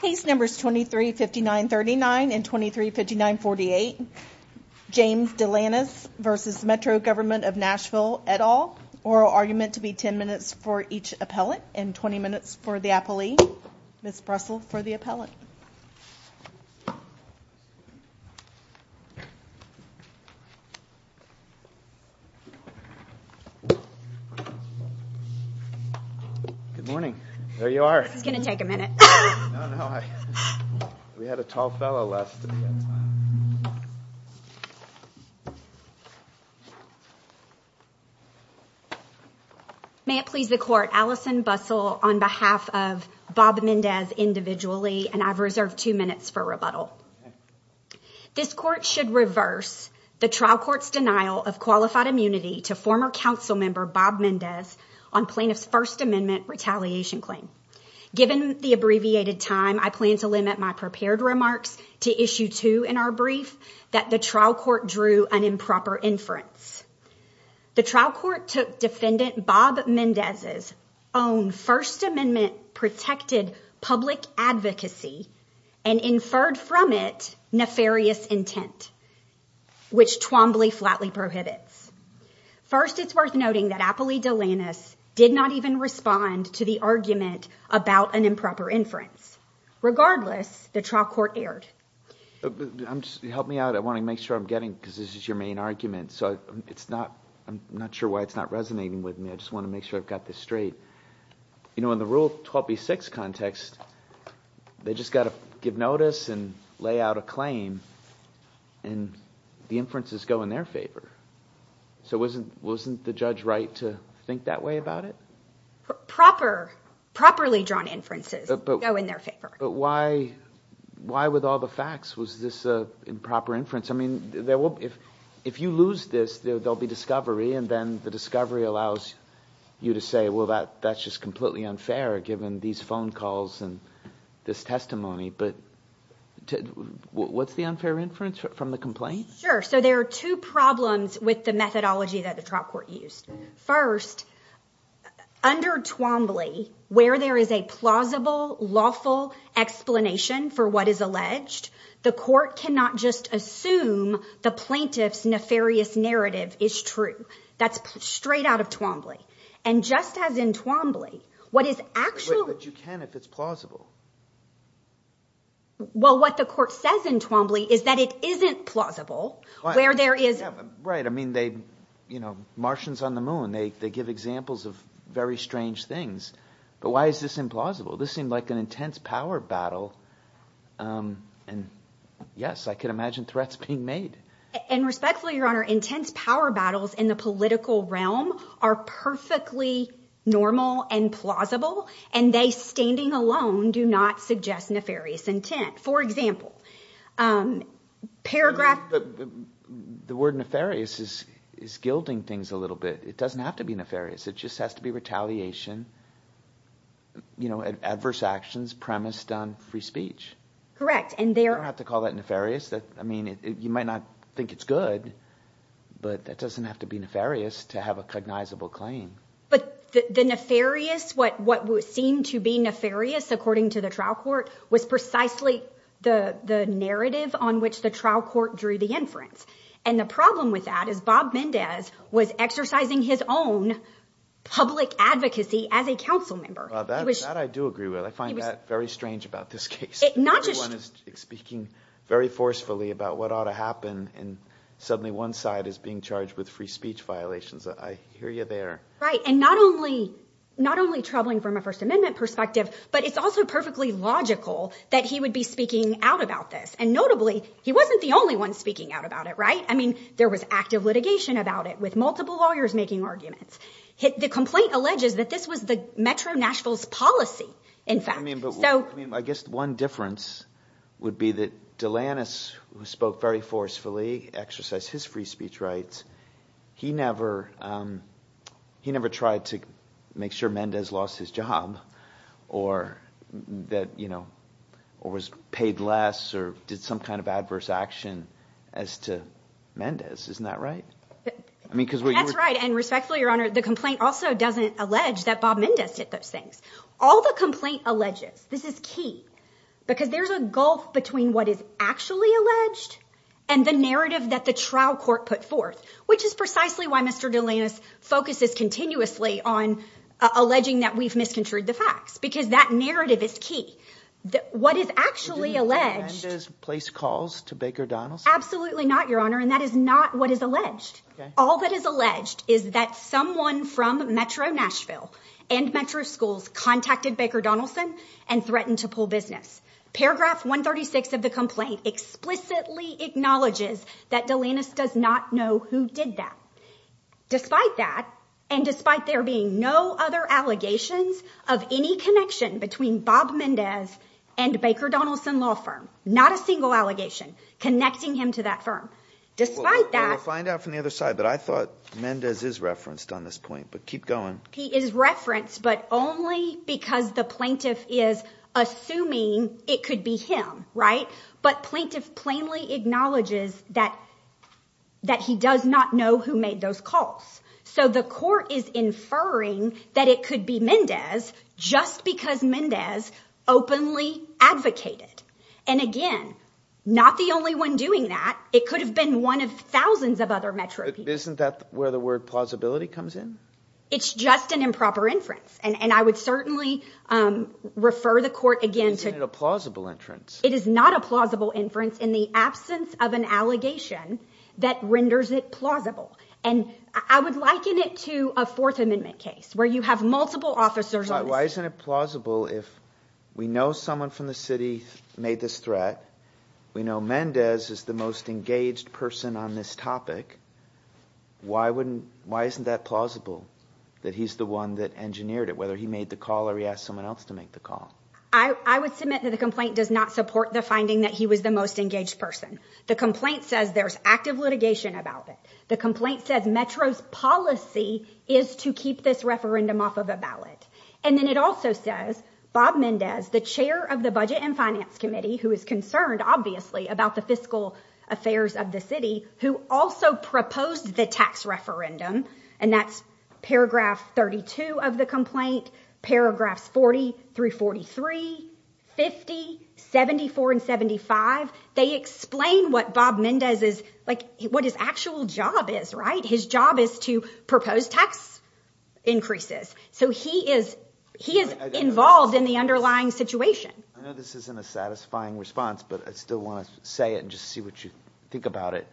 Case numbers 23-5939 and 23-5948 James DeLanis v. Metro Govt of Nashville et al. Oral argument to be 10 minutes for each appellant and 20 minutes for the appellee. Ms. Brussel for the appellant. Good morning. There you are. This is going to take a minute. We had a tall fellow left. May it please the court. My name is Allison Bussel on behalf of Bob Mendez individually. I have reserved two minutes for rebuttal. This court should reverse the trial court's denial of qualified immunity to former council member Bob Mendez on plaintiff's First Amendment retaliation claim. Given the abbreviated time, I plan to limit my prepared remarks to issue two in our brief that the trial court drew an improper inference. The trial court took defendant Bob Mendez's own First Amendment protected public advocacy and inferred from it nefarious intent, which Twombly flatly prohibits. First, it's worth noting that appellee DeLanis did not even respond to the argument about an improper inference. Regardless, the trial court aired. Help me out. I want to make sure I'm getting because this is your main argument. So it's not I'm not sure why it's not resonating with me. I just want to make sure I've got this straight. You know, in the rule 26 context, they just got to give notice and lay out a claim and the inferences go in their favor. So wasn't wasn't the judge right to think that way about it? Proper properly drawn inferences go in their favor. But why why with all the facts was this improper inference? I mean, there will be if if you lose this, there'll be discovery and then the discovery allows you to say, well, that that's just completely unfair. Given these phone calls and this testimony. But what's the unfair inference from the complaint? Sure. So there are two problems with the methodology that the trial court used. First, under Twombly, where there is a plausible, lawful explanation for what is alleged, the court cannot just assume the plaintiff's nefarious narrative is true. That's straight out of Twombly. And just as in Twombly, what is actually that you can, if it's plausible? Well, what the court says in Twombly is that it isn't plausible where there is. Right. I mean, they, you know, Martians on the moon, they they give examples of very strange things. But why is this implausible? This seemed like an intense power battle. And yes, I can imagine threats being made. And respectfully, Your Honor, intense power battles in the political realm are perfectly normal and plausible. And they standing alone do not suggest nefarious intent. For example, paragraph. The word nefarious is is gilding things a little bit. It doesn't have to be nefarious. It just has to be retaliation. You know, adverse actions premised on free speech. Correct. And they don't have to call that nefarious. I mean, you might not think it's good, but that doesn't have to be nefarious to have a cognizable claim. But the nefarious what what would seem to be nefarious, according to the trial court, was precisely the narrative on which the trial court drew the inference. And the problem with that is Bob Mendez was exercising his own public advocacy as a council member. That I do agree with. I find that very strange about this case. Not just speaking very forcefully about what ought to happen. And suddenly one side is being charged with free speech violations. I hear you there. Right. And not only not only troubling from a First Amendment perspective, but it's also perfectly logical that he would be speaking out about this. And notably, he wasn't the only one speaking out about it. Right. I mean, there was active litigation about it with multiple lawyers making arguments. The complaint alleges that this was the Metro Nashville's policy. In fact, I mean, I guess one difference would be that Delanis spoke very forcefully, exercised his free speech rights. He never he never tried to make sure Mendez lost his job or that, you know, or was paid less or did some kind of adverse action as to Mendez. Isn't that right? I mean, because that's right. And respectfully, Your Honor, the complaint also doesn't allege that Bob Mendez did those things. All the complaint alleges this is key because there's a gulf between what is actually alleged and the narrative that the trial court put forth, which is precisely why Mr. Delanis focuses continuously on alleging that we've misconstrued the facts, because that narrative is key. What is actually alleged is place calls to Baker Donald's. Absolutely not, Your Honor. And that is not what is alleged. All that is alleged is that someone from Metro Nashville and Metro schools contacted Baker Donaldson and threatened to pull business. Paragraph one thirty six of the complaint explicitly acknowledges that Delanis does not know who did that. Despite that, and despite there being no other allegations of any connection between Bob Mendez and Baker Donaldson law firm, not a single allegation connecting him to that firm. Despite that, find out from the other side that I thought Mendez is referenced on this point, but keep going. He is referenced, but only because the plaintiff is assuming it could be him. Right. But plaintiff plainly acknowledges that that he does not know who made those calls. So the court is inferring that it could be Mendez just because Mendez openly advocated. And again, not the only one doing that. It could have been one of thousands of other Metro. Isn't that where the word plausibility comes in? It's just an improper inference. And I would certainly refer the court again to a plausible entrance. It is not a plausible inference in the absence of an allegation that renders it plausible. And I would liken it to a Fourth Amendment case where you have multiple officers. Why isn't it plausible if we know someone from the city made this threat? We know Mendez is the most engaged person on this topic. Why wouldn't why isn't that plausible that he's the one that engineered it, whether he made the call or he asked someone else to make the call? I would submit that the complaint does not support the finding that he was the most engaged person. The complaint says there's active litigation about it. The complaint says Metro's policy is to keep this referendum off of a ballot. And then it also says Bob Mendez, the chair of the Budget and Finance Committee, who is concerned, obviously, about the fiscal affairs of the city, who also proposed the tax referendum. And that's paragraph 32 of the complaint, paragraphs 40 through 43, 50, 74 and 75. They explain what Bob Mendez is like, what his actual job is. Right. His job is to propose tax increases. So he is he is involved in the underlying situation. I know this isn't a satisfying response, but I still want to say it and just see what you think about it.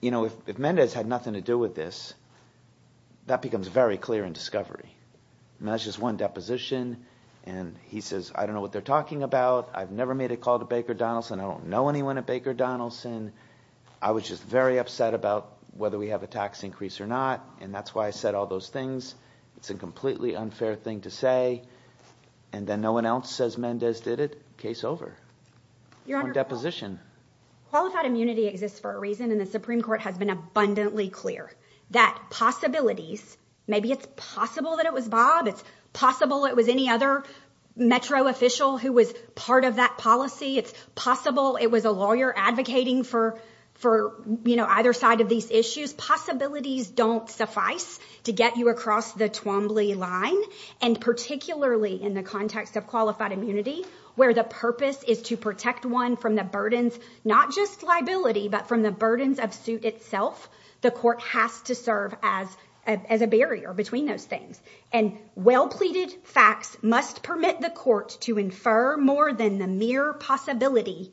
You know, if Mendez had nothing to do with this, that becomes very clear in discovery. That's just one deposition. And he says, I don't know what they're talking about. I've never made a call to Baker Donaldson. I don't know anyone at Baker Donaldson. I was just very upset about whether we have a tax increase or not. And that's why I said all those things. It's a completely unfair thing to say. And then no one else says Mendez did it. Case over. Your deposition. Qualified immunity exists for a reason. And the Supreme Court has been abundantly clear that possibilities. Maybe it's possible that it was Bob. It's possible it was any other metro official who was part of that policy. It's possible it was a lawyer advocating for for either side of these issues. Possibilities don't suffice to get you across the Twombly line. And particularly in the context of qualified immunity, where the purpose is to protect one from the burdens, not just liability, but from the burdens of suit itself. The court has to serve as as a barrier between those things. And well pleaded facts must permit the court to infer more than the mere possibility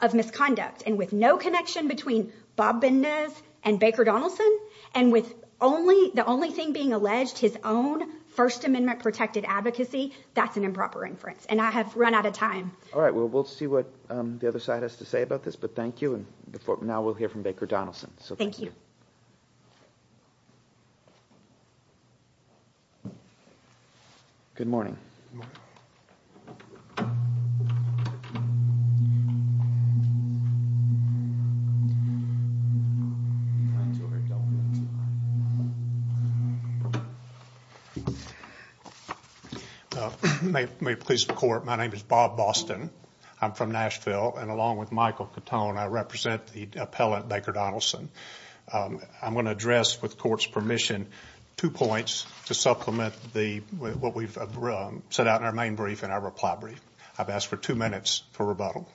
of misconduct. And with no connection between Bob Bendez and Baker Donaldson, and with only the only thing being alleged, his own First Amendment protected advocacy, that's an improper inference. And I have run out of time. All right. Well, we'll see what the other side has to say about this. But thank you. And now we'll hear from Baker Donaldson. So thank you. Good morning. Good morning. May it please the court, my name is Bob Boston. I'm from Nashville. And along with Michael Catone, I represent the appellant, Baker Donaldson. I'm going to address, with court's permission, two points to supplement what we've set out in our main brief and our reply brief. I've asked for two minutes for rebuttal.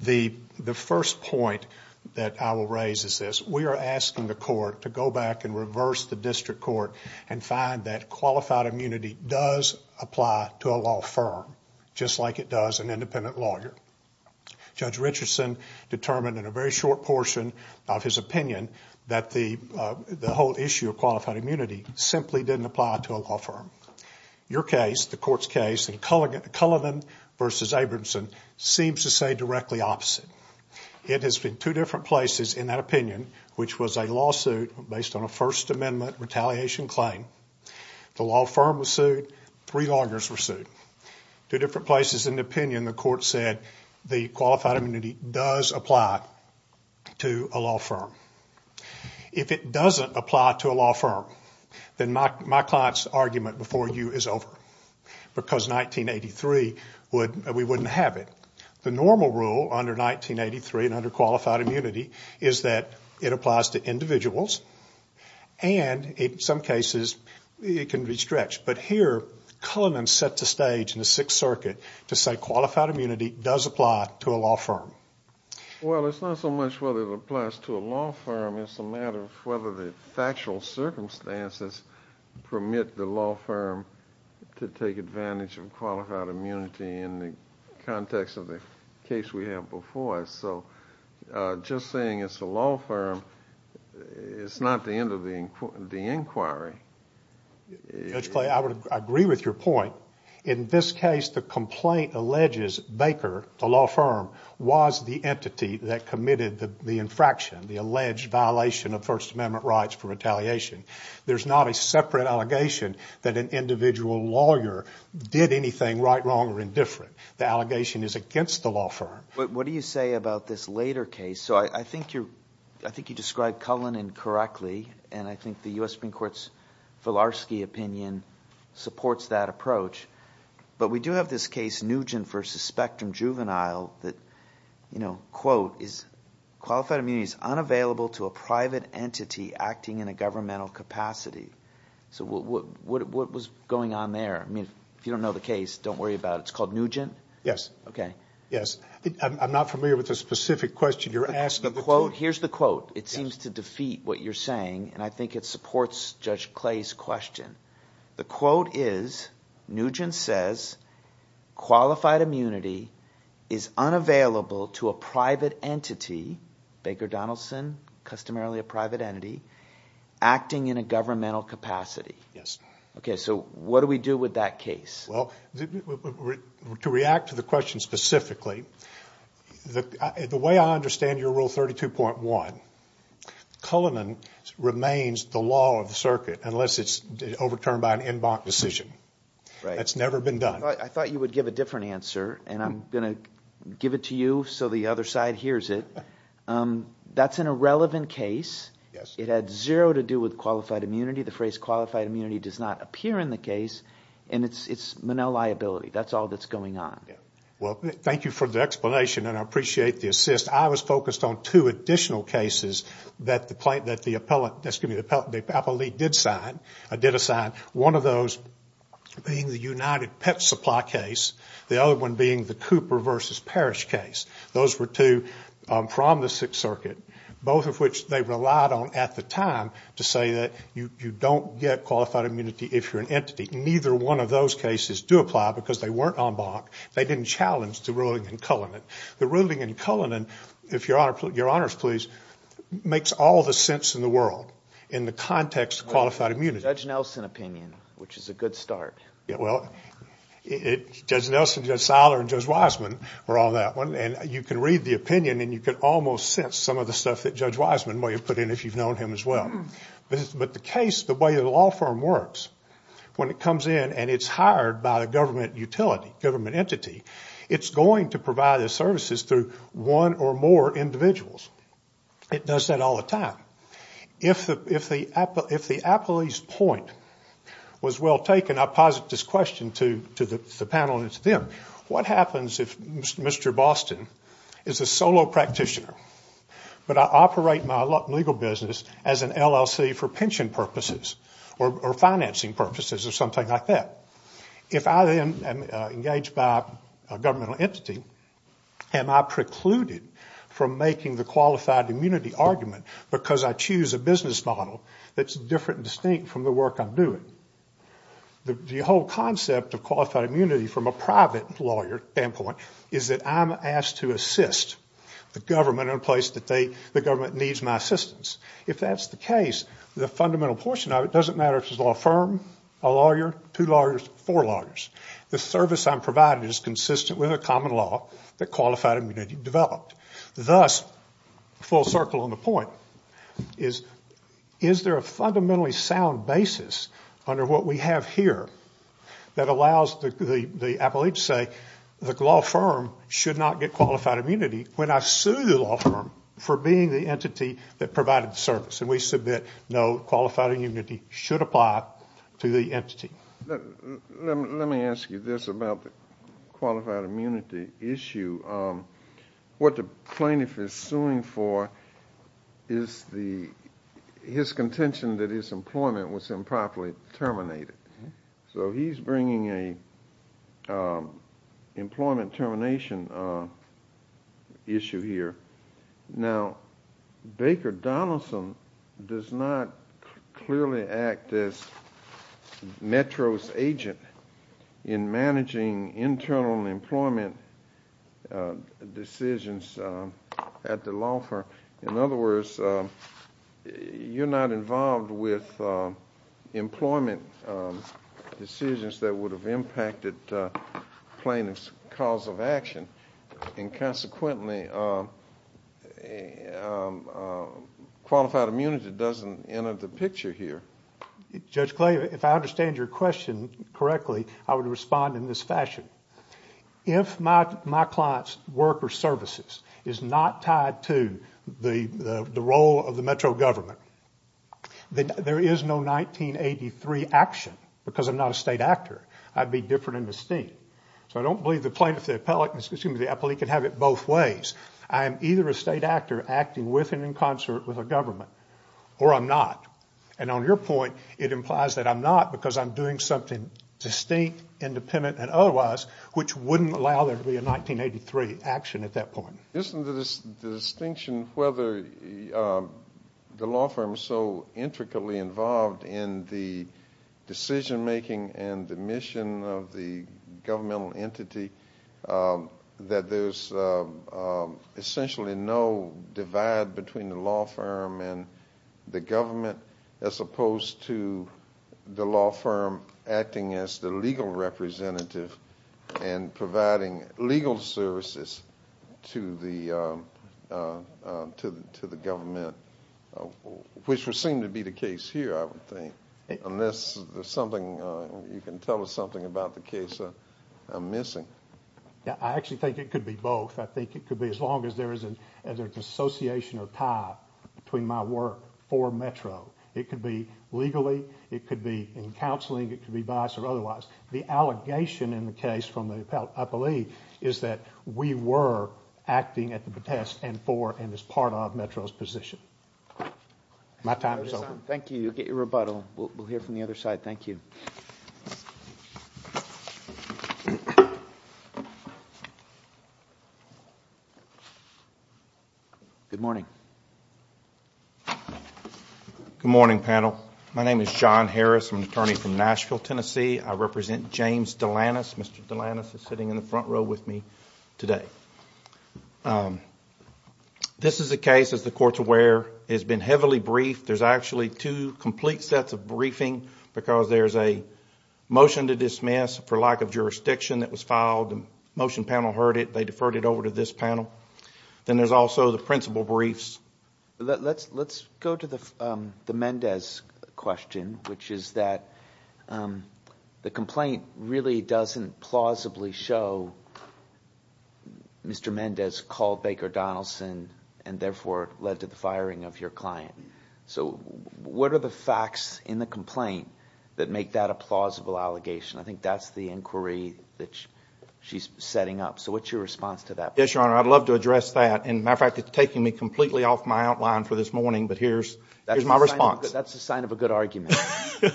The first point that I will raise is this. We are asking the court to go back and reverse the district court and find that qualified immunity does apply to a law firm, just like it does an independent lawyer. Judge Richardson determined in a very short portion of his opinion that the whole issue of qualified immunity simply didn't apply to a law firm. Your case, the court's case, in Cullivan v. Abramson, seems to say directly opposite. It has been two different places in that opinion, which was a lawsuit based on a First Amendment retaliation claim. The law firm was sued. Three lawyers were sued. Two different places in the opinion, the court said the qualified immunity does apply to a law firm. If it doesn't apply to a law firm, then my client's argument before you is over, because 1983, we wouldn't have it. The normal rule under 1983 and under qualified immunity is that it applies to individuals, and in some cases, it can be stretched. But here, Cullivan set the stage in the Sixth Circuit to say qualified immunity does apply to a law firm. Well, it's not so much whether it applies to a law firm. It's a matter of whether the factual circumstances permit the law firm to take advantage of qualified immunity in the context of the case we have before us. So just saying it's a law firm is not the end of the inquiry. Judge Clay, I would agree with your point. In this case, the complaint alleges Baker, the law firm, was the entity that committed the infraction, the alleged violation of First Amendment rights for retaliation. There's not a separate allegation that an individual lawyer did anything right, wrong, or indifferent. The allegation is against the law firm. But what do you say about this later case? So I think you described Cullivan correctly, and I think the U.S. Supreme Court's Filarski opinion supports that approach. But we do have this case, Nugent v. Spectrum Juvenile, that, quote, is qualified immunity is unavailable to a private entity acting in a governmental capacity. So what was going on there? I mean, if you don't know the case, don't worry about it. It's called Nugent? Yes. Okay. Yes. I'm not familiar with the specific question you're asking. Here's the quote. It seems to defeat what you're saying, and I think it supports Judge Clay's question. The quote is, Nugent says, qualified immunity is unavailable to a private entity, Baker Donaldson, customarily a private entity, acting in a governmental capacity. Yes. Okay, so what do we do with that case? Well, to react to the question specifically, the way I understand your Rule 32.1, Cullivan remains the law of the circuit unless it's overturned by an en banc decision. Right. That's never been done. I thought you would give a different answer, and I'm going to give it to you so the other side hears it. That's an irrelevant case. Yes. It had zero to do with qualified immunity. The phrase qualified immunity does not appear in the case, and it's Monell liability. That's all that's going on. Well, thank you for the explanation, and I appreciate the assist. I was focused on two additional cases that the appellate did assign, one of those being the United Pet Supply case, the other one being the Cooper v. Parrish case. Those were two from the Sixth Circuit, both of which they relied on at the time to say that you don't get qualified immunity if you're an entity. Neither one of those cases do apply because they weren't en banc. They didn't challenge the ruling in Cullivan. The ruling in Cullivan, if your honors please, makes all the sense in the world in the context of qualified immunity. Judge Nelson opinion, which is a good start. Judge Nelson, Judge Seiler, and Judge Wiseman were on that one, and you can read the opinion and you can almost sense some of the stuff that Judge Wiseman may have put in if you've known him as well. But the case, the way the law firm works, when it comes in and it's hired by the government utility, government entity, it's going to provide the services through one or more individuals. It does that all the time. If the appellee's point was well taken, I posit this question to the panel and to them. What happens if Mr. Boston is a solo practitioner but I operate my legal business as an LLC for pension purposes or financing purposes or something like that? If I then am engaged by a governmental entity, am I precluded from making the qualified immunity argument because I choose a business model that's different and distinct from the work I'm doing? The whole concept of qualified immunity from a private lawyer standpoint is that I'm asked to assist the government in a place that the government needs my assistance. If that's the case, the fundamental portion of it doesn't matter if it's a law firm, a lawyer, two lawyers, four lawyers. The service I'm provided is consistent with a common law that qualified immunity developed. Thus, full circle on the point, is there a fundamentally sound basis under what we have here that allows the appellee to say the law firm should not get qualified immunity when I sue the law firm for being the entity that provided the service? We submit no, qualified immunity should apply to the entity. Let me ask you this about the qualified immunity issue. What the plaintiff is suing for is his contention that his employment was improperly terminated. He's bringing an employment termination issue here. Now, Baker Donaldson does not clearly act as Metro's agent in managing internal employment decisions at the law firm. In other words, you're not involved with employment decisions that would have impacted plaintiff's cause of action. Consequently, qualified immunity doesn't enter the picture here. Judge Clay, if I understand your question correctly, I would respond in this fashion. If my client's work or services is not tied to the role of the Metro government, then there is no 1983 action because I'm not a state actor. I'd be different in disdain. So I don't believe the plaintiff, the appellee, can have it both ways. I am either a state actor acting with and in concert with a government, or I'm not. And on your point, it implies that I'm not because I'm doing something distinct, independent, and otherwise, which wouldn't allow there to be a 1983 action at that point. Isn't the distinction whether the law firm is so intricately involved in the decision-making and the mission of the governmental entity that there's essentially no divide between the law firm and the government, as opposed to the law firm acting as the legal representative and providing legal services to the government, which would seem to be the case here, I would think, unless you can tell us something about the case I'm missing. I actually think it could be both. I think it could be as long as there is an association or tie between my work for Metro. It could be legally, it could be in counseling, it could be by us or otherwise. The allegation in the case from the appellee is that we were acting at the protest and for and as part of Metro's position. My time is over. Thank you. Get your rebuttal. We'll hear from the other side. Thank you. Good morning. Good morning, panel. My name is John Harris. I'm an attorney from Nashville, Tennessee. I represent James Delanis. Mr. Delanis is sitting in the front row with me today. This is a case, as the Court's aware, has been heavily briefed. There's actually two complete sets of briefing because there's a motion to dismiss for lack of jurisdiction that was filed. The motion panel heard it. They deferred it over to this panel. Then there's also the principal briefs. Let's go to the Mendez question, which is that the complaint really doesn't plausibly show Mr. Mendez called Baker Donaldson and therefore led to the firing of your client. What are the facts in the complaint that make that a plausible allegation? I think that's the inquiry that she's setting up. What's your response to that? Yes, Your Honor. I'd love to address that. As a matter of fact, it's taking me completely off my outline for this morning, but here's my response. That's a sign of a good argument. I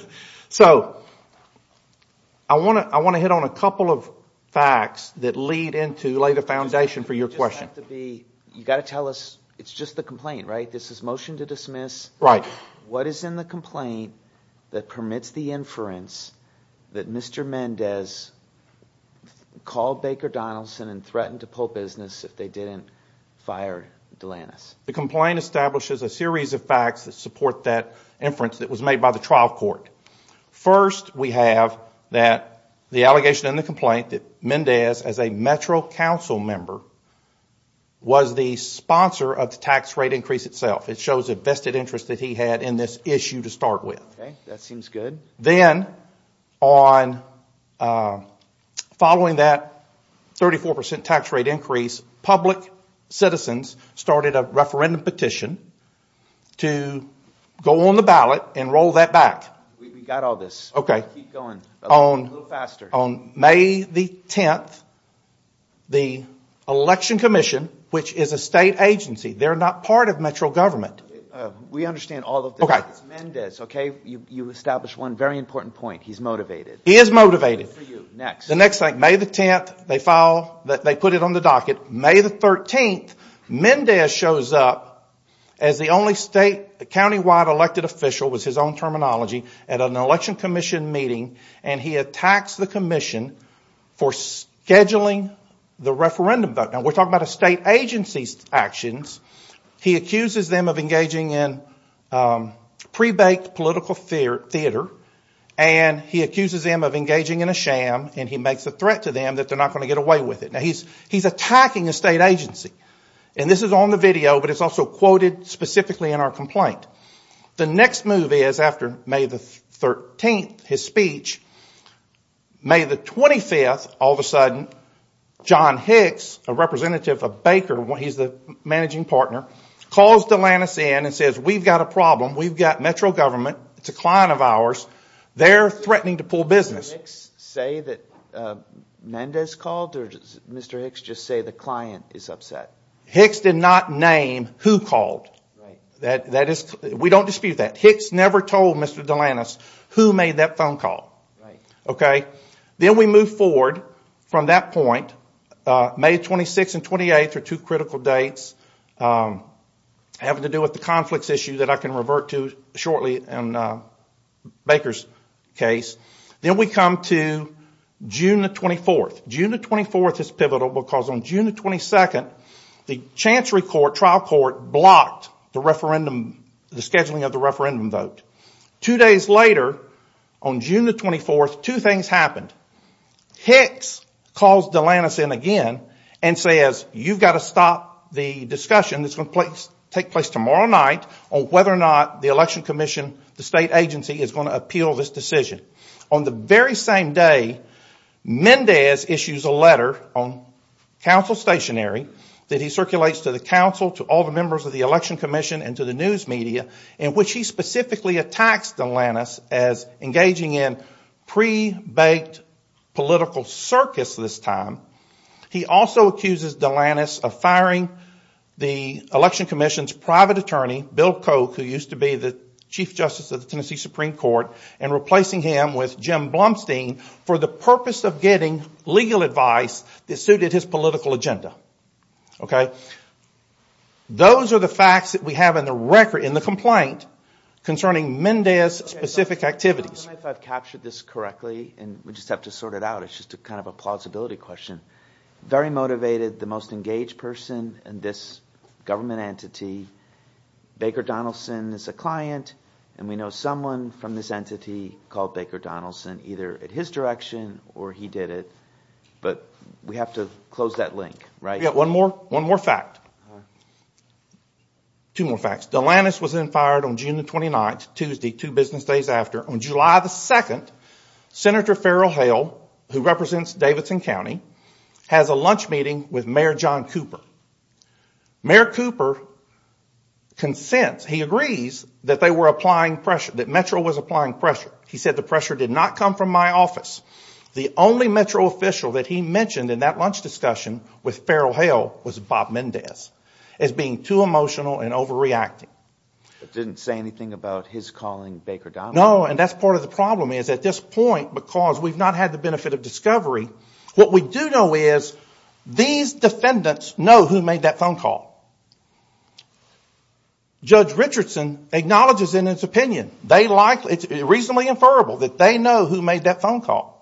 want to hit on a couple of facts that lay the foundation for your question. You've got to tell us it's just the complaint, right? This is motion to dismiss. Right. What is in the complaint that permits the inference that Mr. Mendez called Baker Donaldson and threatened to pull business if they didn't fire Delanus? The complaint establishes a series of facts that support that inference that was made by the trial court. First, we have the allegation in the complaint that Mendez, as a Metro Council member, was the sponsor of the tax rate increase itself. It shows a vested interest that he had in this issue to start with. That seems good. Then, following that 34% tax rate increase, public citizens started a referendum petition to go on the ballot and roll that back. We've got all this. Okay. Keep going. A little faster. On May the 10th, the Election Commission, which is a state agency, they're not part of Metro government. We understand all of this. Okay. You establish one very important point. He's motivated. He is motivated. Next. The next thing, May the 10th, they put it on the docket. May the 13th, Mendez shows up as the only statewide elected official, was his own terminology, at an Election Commission meeting, and he attacks the commission for scheduling the referendum vote. Now, we're talking about a state agency's actions. He accuses them of engaging in pre-baked political theater, and he accuses them of engaging in a sham, and he makes a threat to them that they're not going to get away with it. Now, he's attacking a state agency, and this is on the video, but it's also quoted specifically in our complaint. The next move is, after May the 13th, his speech, May the 25th, all of a sudden, John Hicks, a representative of Baker, he's the managing partner, calls Delantis in and says, We've got a problem. We've got Metro government. It's a client of ours. They're threatening to pull business. Did Hicks say that Mendez called, or did Mr. Hicks just say the client is upset? Hicks did not name who called. We don't dispute that. Hicks never told Mr. Delantis who made that phone call. Okay. Then we move forward from that point, May 26th and 28th are two critical dates having to do with the conflicts issue that I can revert to shortly in Baker's case. Then we come to June the 24th. June the 24th is pivotal because on June the 22nd, the Chancery Court, trial court, blocked the scheduling of the referendum vote. Two days later, on June the 24th, two things happened. Hicks calls Delantis in again and says, You've got to stop the discussion that's going to take place tomorrow night on whether or not the election commission, the state agency, is going to appeal this decision. On the very same day, Mendez issues a letter on council stationary that he circulates to the council, to all the members of the election commission, and to the news media, in which he specifically attacks Delantis as engaging in pre-baked political circus this time. He also accuses Delantis of firing the election commission's private attorney, Bill Koch, who used to be the chief justice of the Tennessee Supreme Court, and replacing him with Jim Blumstein for the purpose of getting legal advice that suited his political agenda. Okay? Those are the facts that we have in the record, in the complaint, concerning Mendez's specific activities. I don't know if I've captured this correctly, and we just have to sort it out. It's just kind of a plausibility question. Very motivated, the most engaged person in this government entity. Baker Donaldson is a client, and we know someone from this entity called Baker Donaldson, either in his direction, or he did it. But we have to close that link, right? Yeah, one more fact. Two more facts. Delantis was then fired on June 29th, Tuesday, two business days after. On July 2nd, Senator Farrell Hale, who represents Davidson County, has a lunch meeting with Mayor John Cooper. Mayor Cooper consents, he agrees, that they were applying pressure, that Metro was applying pressure. He said the pressure did not come from my office. The only Metro official that he mentioned in that lunch discussion with Farrell Hale was Bob Mendez, as being too emotional and overreacting. It didn't say anything about his calling Baker Donaldson. No, and that's part of the problem, is at this point, because we've not had the benefit of discovery, what we do know is these defendants know who made that phone call. Judge Richardson acknowledges in his opinion. It's reasonably inferable that they know who made that phone call.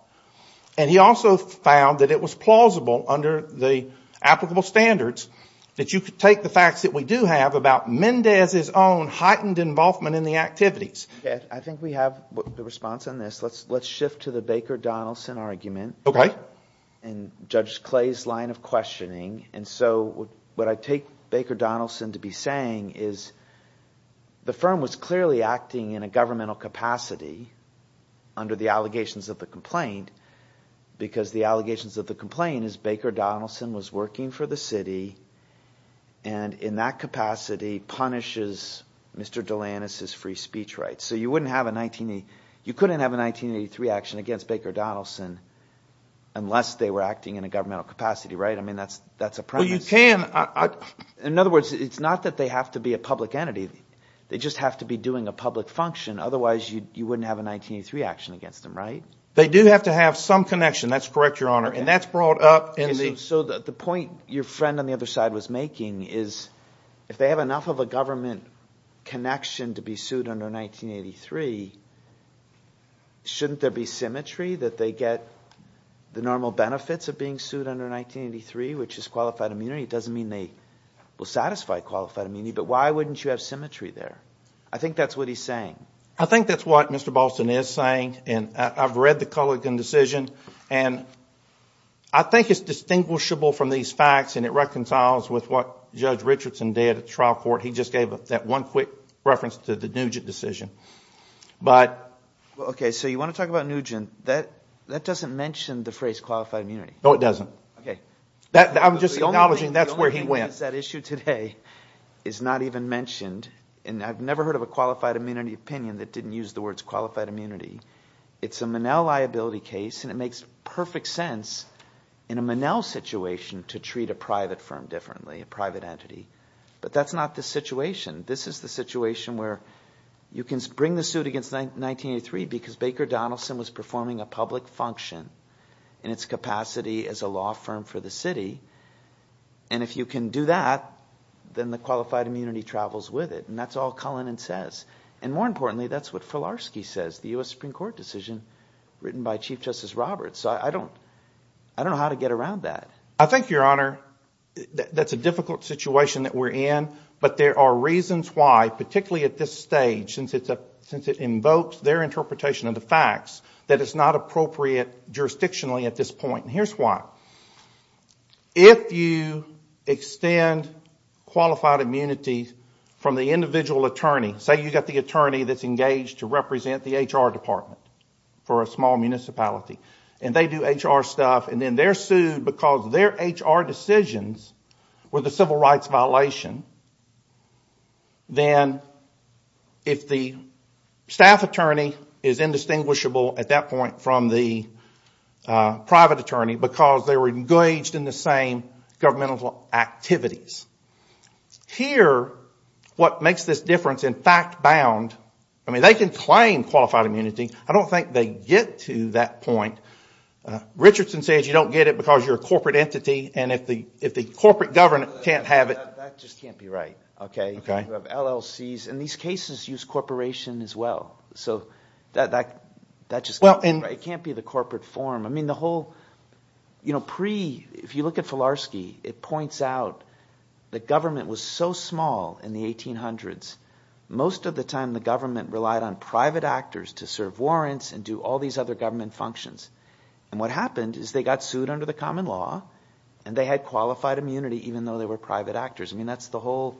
And he also found that it was plausible under the applicable standards that you could take the facts that we do have about Mendez's own heightened involvement in the activities. I think we have the response on this. Let's shift to the Baker Donaldson argument. Okay. And Judge Clay's line of questioning. What I take Baker Donaldson to be saying is the firm was clearly acting in a governmental capacity under the allegations of the complaint, because the allegations of the complaint is Baker Donaldson was working for the city and in that capacity punishes Mr. Delanus's free speech rights. So you couldn't have a 1983 action against Baker Donaldson unless they were acting in a governmental capacity, right? I mean, that's a premise. Well, you can. In other words, it's not that they have to be a public entity. They just have to be doing a public function. Otherwise, you wouldn't have a 1983 action against them, right? They do have to have some connection. That's correct, Your Honor. And that's brought up in the – So the point your friend on the other side was making is if they have enough of a government connection to be sued under 1983, shouldn't there be symmetry that they get the normal benefits of being sued under 1983, which is qualified immunity? It doesn't mean they will satisfy qualified immunity, but why wouldn't you have symmetry there? I think that's what he's saying. I think that's what Mr. Boston is saying, and I've read the Culligan decision, and I think it's distinguishable from these facts and it reconciles with what Judge Richardson did at trial court. He just gave that one quick reference to the Nugent decision. Okay, so you want to talk about Nugent. That doesn't mention the phrase qualified immunity. No, it doesn't. Okay. I'm just acknowledging that's where he went. The only thing is that issue today is not even mentioned, and I've never heard of a qualified immunity opinion that didn't use the words qualified immunity. It's a Monell liability case, and it makes perfect sense in a Monell situation to treat a private firm differently, a private entity. But that's not the situation. This is the situation where you can bring the suit against 1983 because Baker Donaldson was performing a public function in its capacity as a law firm for the city, and if you can do that, then the qualified immunity travels with it, and that's all Culligan says. And more importantly, that's what Filarski says, the U.S. Supreme Court decision written by Chief Justice Roberts. So I don't know how to get around that. I think, Your Honor, that's a difficult situation that we're in, but there are reasons why, particularly at this stage since it invokes their interpretation of the facts, that it's not appropriate jurisdictionally at this point, and here's why. If you extend qualified immunity from the individual attorney, say you've got the attorney that's engaged to represent the HR department for a small municipality, and they do HR stuff, and then they're sued because their HR decisions were the civil rights violation, then if the staff attorney is indistinguishable at that point from the private attorney because they were engaged in the same governmental activities, here what makes this difference in fact bound, I mean, they can claim qualified immunity. I don't think they get to that point. Richardson says you don't get it because you're a corporate entity, and if the corporate government can't have it. That just can't be right. You have LLCs, and these cases use corporation as well. So that just can't be right. It can't be the corporate form. If you look at Filarski, it points out that government was so small in the 1800s, most of the time the government relied on private actors to serve warrants and do all these other government functions. And what happened is they got sued under the common law, and they had qualified immunity even though they were private actors. I mean, that's the whole,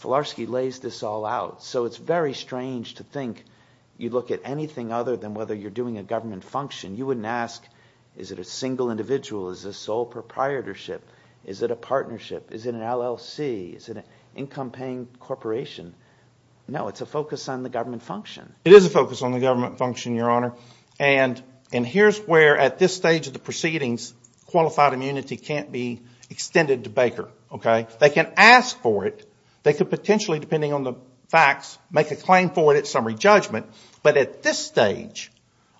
Filarski lays this all out. So it's very strange to think you look at anything other than whether you're doing a government function, you wouldn't ask is it a single individual, is this sole proprietorship, is it a partnership, is it an LLC, is it an income-paying corporation? No, it's a focus on the government function. It is a focus on the government function, Your Honor. And here's where at this stage of the proceedings qualified immunity can't be extended to Baker. They can ask for it. They could potentially, depending on the facts, make a claim for it at summary judgment. But at this stage,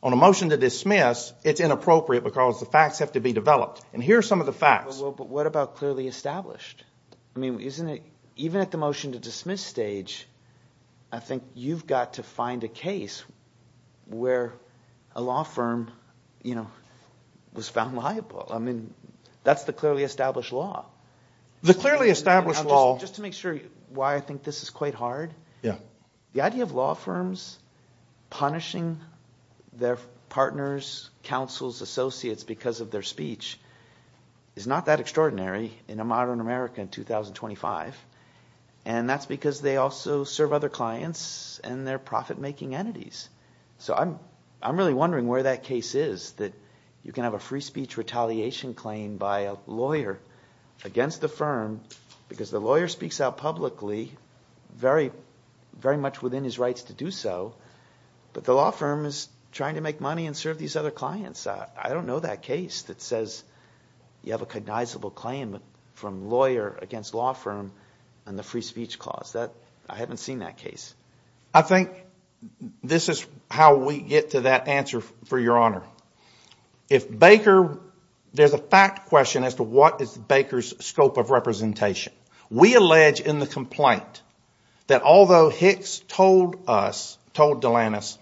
on a motion to dismiss, it's inappropriate because the facts have to be developed. And here are some of the facts. But what about clearly established? I mean, even at the motion to dismiss stage, I think you've got to find a case where a law firm was found liable. I mean, that's the clearly established law. The clearly established law. Just to make sure why I think this is quite hard. Yeah. The idea of law firms punishing their partners, counsels, associates because of their speech is not that extraordinary in a modern America in 2025. And that's because they also serve other clients and they're profit-making entities. So I'm really wondering where that case is that you can have a free speech retaliation claim by a lawyer against the firm because the lawyer speaks out publicly very much within his rights to do so, but the law firm is trying to make money and serve these other clients. I don't know that case that says you have a cognizable claim from lawyer against law firm on the free speech clause. I haven't seen that case. I think this is how we get to that answer, for your honor. If Baker, there's a fact question as to what is Baker's scope of representation. We allege in the complaint that although Hicks told us, told Delanis,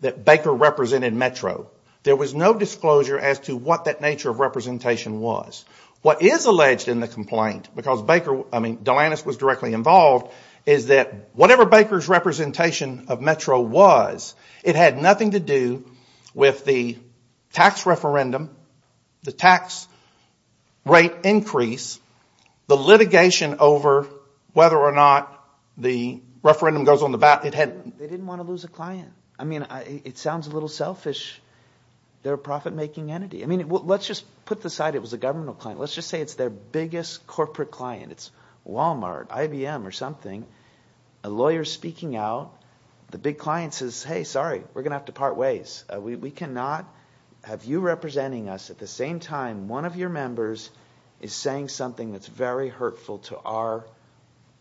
that Baker represented Metro, there was no disclosure as to what that nature of representation was. What is alleged in the complaint, because Baker, I mean, Delanis was directly involved, is that whatever Baker's representation of Metro was, it had nothing to do with the tax referendum, the tax rate increase, the litigation over whether or not the referendum goes on the ballot. They didn't want to lose a client. I mean, it sounds a little selfish. They're a profit-making entity. I mean, let's just put aside it was a governmental client. Let's just say it's their biggest corporate client. It's Walmart, IBM or something. A lawyer speaking out, the big client says, hey, sorry, we're going to have to part ways. We cannot have you representing us at the same time one of your members is saying something that's very hurtful to our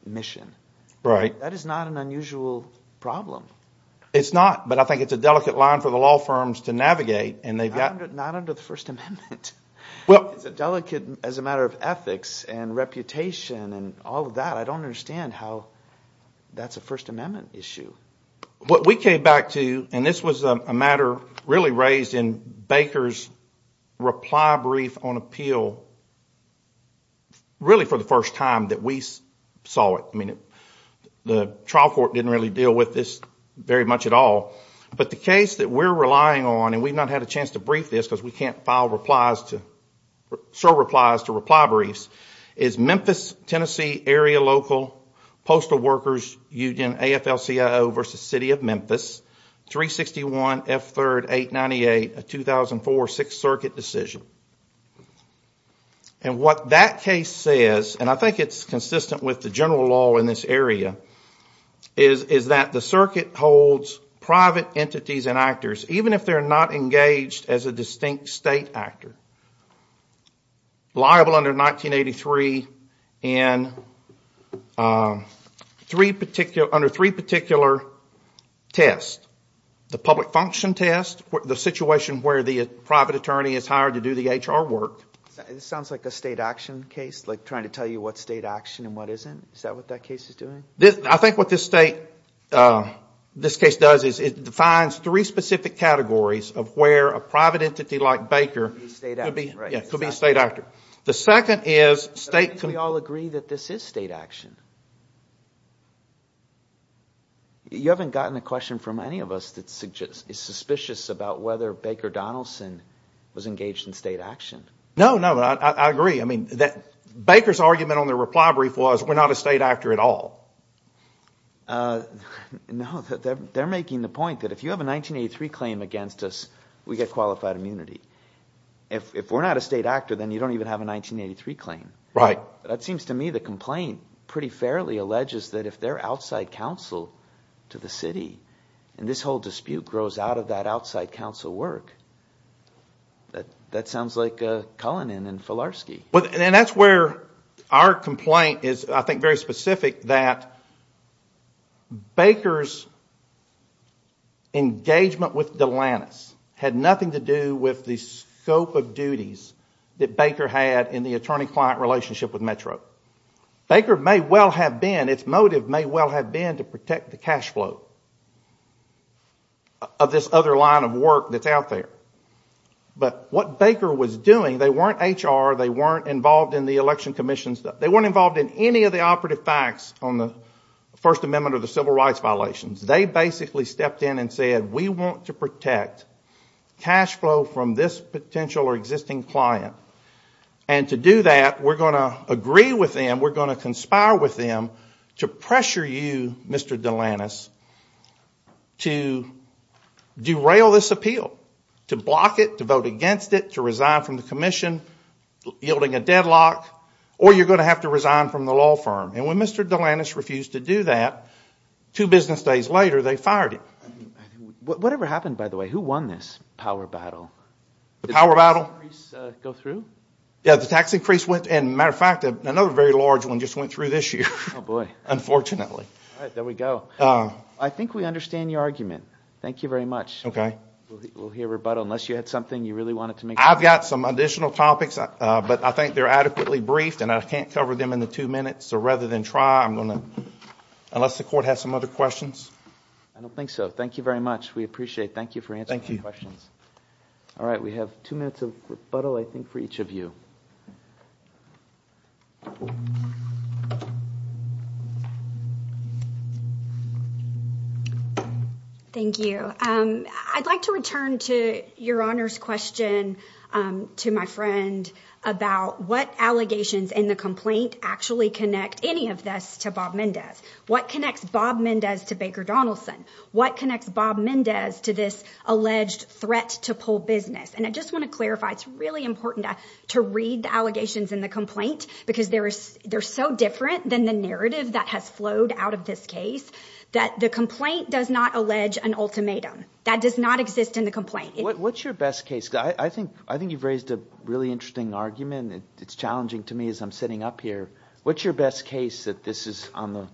mission. That is not an unusual problem. It's not, but I think it's a delicate line for the law firms to navigate. Not under the First Amendment. It's a delicate, as a matter of ethics and reputation and all of that. But I don't understand how that's a First Amendment issue. What we came back to, and this was a matter really raised in Baker's reply brief on appeal, really for the first time that we saw it. I mean, the trial court didn't really deal with this very much at all. But the case that we're relying on, and we've not had a chance to brief this because we can't file replies to, serve replies to reply briefs, is Memphis, Tennessee, area local, postal workers union, AFL-CIO versus City of Memphis, 361 F3rd 898, a 2004 Sixth Circuit decision. And what that case says, and I think it's consistent with the general law in this area, is that the circuit holds private entities and actors, even if they're not engaged as a distinct state actor, liable under 1983 under three particular tests. The public function test, the situation where the private attorney is hired to do the HR work. This sounds like a state action case, like trying to tell you what's state action and what isn't. Is that what that case is doing? I think what this case does is it defines three specific categories of where a private entity like Baker could be a state actor. The second is state... But I think we all agree that this is state action. You haven't gotten a question from any of us that is suspicious about whether Baker Donaldson was engaged in state action. No, no, I agree. I mean, Baker's argument on the reply brief was we're not a state actor at all. No, they're making the point that if you have a 1983 claim against us, we get qualified immunity. If we're not a state actor, then you don't even have a 1983 claim. Right. That seems to me the complaint pretty fairly alleges that if they're outside counsel to the city and this whole dispute grows out of that outside counsel work, that sounds like Cullinan and Filarski. And that's where our complaint is, I think, very specific that Baker's engagement with Delantis had nothing to do with the scope of duties that Baker had in the attorney-client relationship with Metro. Baker may well have been, its motive may well have been to protect the cash flow of this other line of work that's out there. But what Baker was doing, they weren't HR, they weren't involved in the election commissions, they weren't involved in any of the operative facts on the First Amendment or the civil rights violations. They basically stepped in and said, we want to protect cash flow from this potential or existing client. And to do that, we're going to agree with them, we're going to conspire with them to pressure you, Mr. Delantis, to derail this appeal, to block it, to vote against it, to resign from the commission, yielding a deadlock, or you're going to have to resign from the law firm. And when Mr. Delantis refused to do that, two business days later, they fired him. Whatever happened, by the way, who won this power battle? The power battle? Did the tax increase go through? Yeah, the tax increase went, and matter of fact, another very large one just went through this year. Oh, boy. Unfortunately. All right, there we go. I think we understand your argument. Thank you very much. Okay. We'll hear rebuttal unless you had something you really wanted to make clear. I've got some additional topics, but I think they're adequately briefed and I can't cover them in the two minutes, so rather than try, I'm going to, unless the court has some other questions. I don't think so. Thank you very much. We appreciate it. Thank you for answering the questions. Thank you. All right, we have two minutes of rebuttal, I think, for each of you. Thank you. I'd like to return to Your Honor's question to my friend about what allegations in the complaint actually connect any of this to Bob Mendez. What connects Bob Mendez to Baker Donaldson? What connects Bob Mendez to this alleged threat to pull business? And I just want to clarify, it's really important to read the allegations in the complaint because they're so different than the narrative that has flowed out of this case, that the complaint does not allege an ultimatum. That does not exist in the complaint. What's your best case? I think you've raised a really interesting argument. It's challenging to me as I'm sitting up here. What's your best case that this is on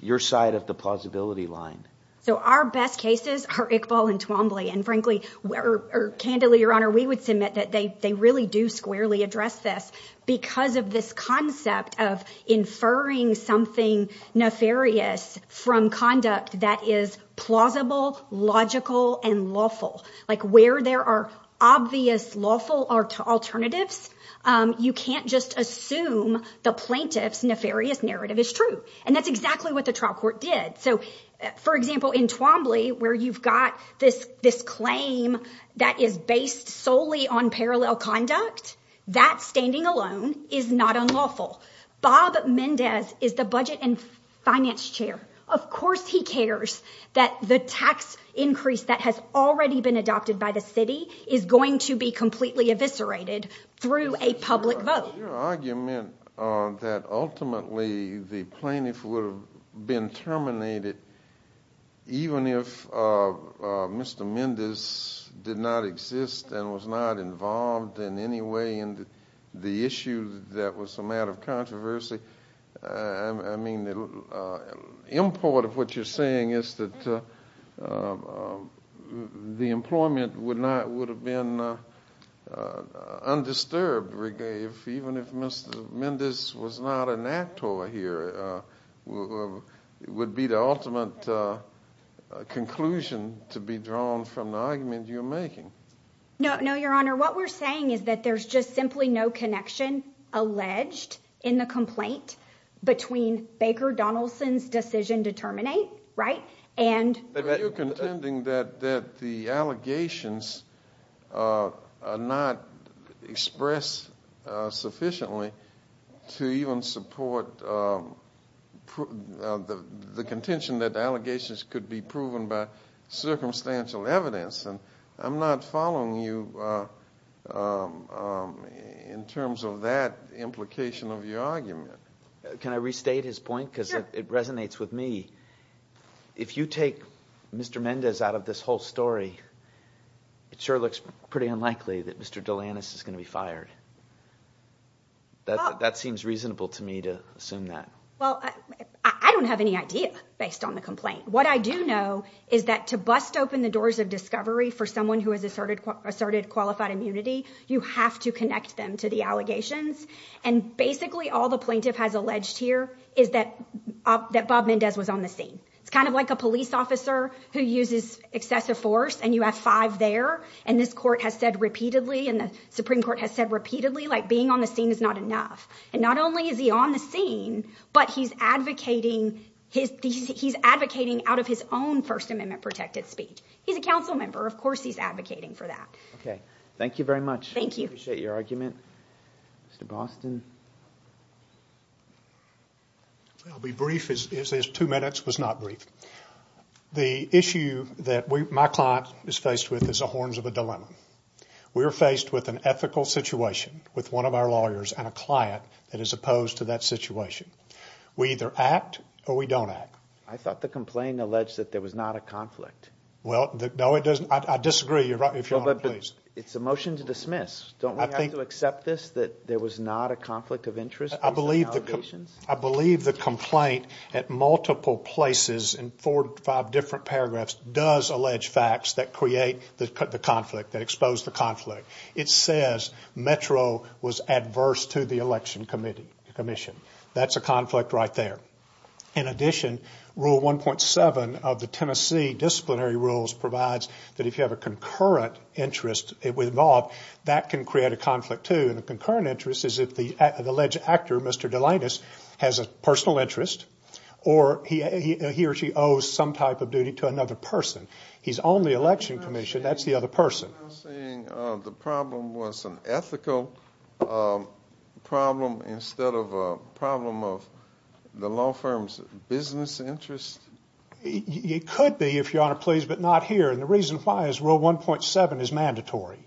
your side of the plausibility line? So our best cases are Iqbal and Twombly. Candidly, Your Honor, we would submit that they really do squarely address this because of this concept of inferring something nefarious from conduct that is plausible, logical, and lawful. Like where there are obvious lawful alternatives, you can't just assume the plaintiff's nefarious narrative is true. And that's exactly what the trial court did. So, for example, in Twombly, where you've got this claim that is based solely on parallel conduct, that standing alone is not unlawful. Bob Mendez is the budget and finance chair. Of course he cares that the tax increase that has already been adopted by the city is going to be completely eviscerated through a public vote. Your argument that ultimately the plaintiff would have been terminated even if Mr. Mendez did not exist and was not involved in any way in the issue that was a matter of controversy, I mean, the import of what you're saying is that the employment would have been undisturbed even if Mr. Mendez was not an actor here would be the ultimate conclusion to be drawn from the argument you're making. No, Your Honor, what we're saying is that there's just simply no connection alleged in the complaint between Baker Donaldson's decision to terminate, right? But you're contending that the allegations are not expressed sufficiently to even support the contention that the allegations could be proven by circumstantial evidence. I'm not following you in terms of that implication of your argument. Can I restate his point? Sure. It resonates with me. If you take Mr. Mendez out of this whole story, it sure looks pretty unlikely that Mr. Delanus is going to be fired. That seems reasonable to me to assume that. Well, I don't have any idea based on the complaint. What I do know is that to bust open the doors of discovery for someone who has asserted qualified immunity, you have to connect them to the allegations. And basically all the plaintiff has alleged here is that Bob Mendez was on the scene. It's kind of like a police officer who uses excessive force and you have five there. And this court has said repeatedly and the Supreme Court has said repeatedly like being on the scene is not enough. And not only is he on the scene, but he's advocating out of his own First Amendment protected speech. He's a council member. Of course he's advocating for that. Okay. Thank you very much. Thank you. I appreciate your argument. Mr. Boston. I'll be brief as two minutes was not brief. The issue that my client is faced with is the horns of a dilemma. We are faced with an ethical situation with one of our lawyers and a client that is opposed to that situation. We either act or we don't act. I thought the complaint alleged that there was not a conflict. Well, no it doesn't. I disagree. It's a motion to dismiss. Don't we have to accept this that there was not a conflict of interest? I believe the complaint at multiple places in four or five different paragraphs does allege facts that create the conflict, that expose the conflict. It says Metro was adverse to the election commission. That's a conflict right there. In addition, Rule 1.7 of the Tennessee disciplinary rules provides that if you have a concurrent interest involved, that can create a conflict too. A concurrent interest is if the alleged actor, Mr. Delanus, has a personal interest or he or she owes some type of duty to another person. He's on the election commission. That's the other person. So you're saying the problem was an ethical problem instead of a problem of the law firm's business interest? It could be, if Your Honor please, but not here. And the reason why is Rule 1.7 is mandatory.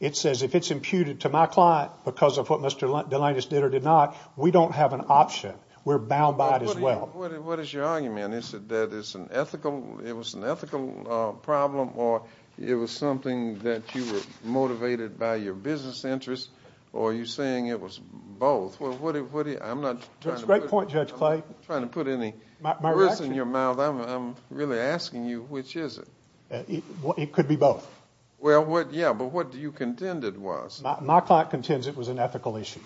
It says if it's imputed to my client because of what Mr. Delanus did or did not, we don't have an option. We're bound by it as well. What is your argument? Is it that it was an ethical problem or it was something that you were motivated by your business interest? Or are you saying it was both? That's a great point, Judge Clay. I'm not trying to put any words in your mouth. I'm really asking you, which is it? It could be both. Yeah, but what you contended was? My client contends it was an ethical issue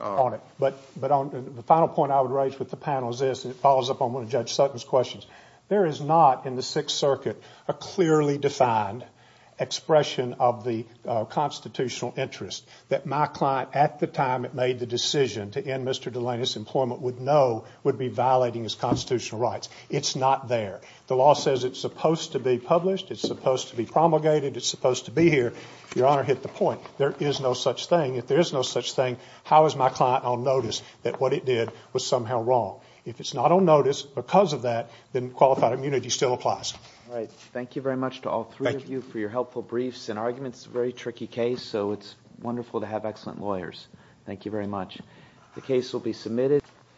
on it. The final point I would raise with the panel is this, and it follows up on one of Judge Sutton's questions. There is not in the Sixth Circuit a clearly defined expression of the constitutional interest that my client, at the time it made the decision to end Mr. Delanus' employment, would know would be violating his constitutional rights. It's not there. The law says it's supposed to be published. It's supposed to be promulgated. It's supposed to be here. Your Honor hit the point. There is no such thing. If there is no such thing, how is my client on notice that what it did was somehow wrong? If it's not on notice because of that, then qualified immunity still applies. All right. Thank you very much to all three of you for your helpful briefs and arguments. It's a very tricky case, so it's wonderful to have excellent lawyers. Thank you very much. The case will be submitted.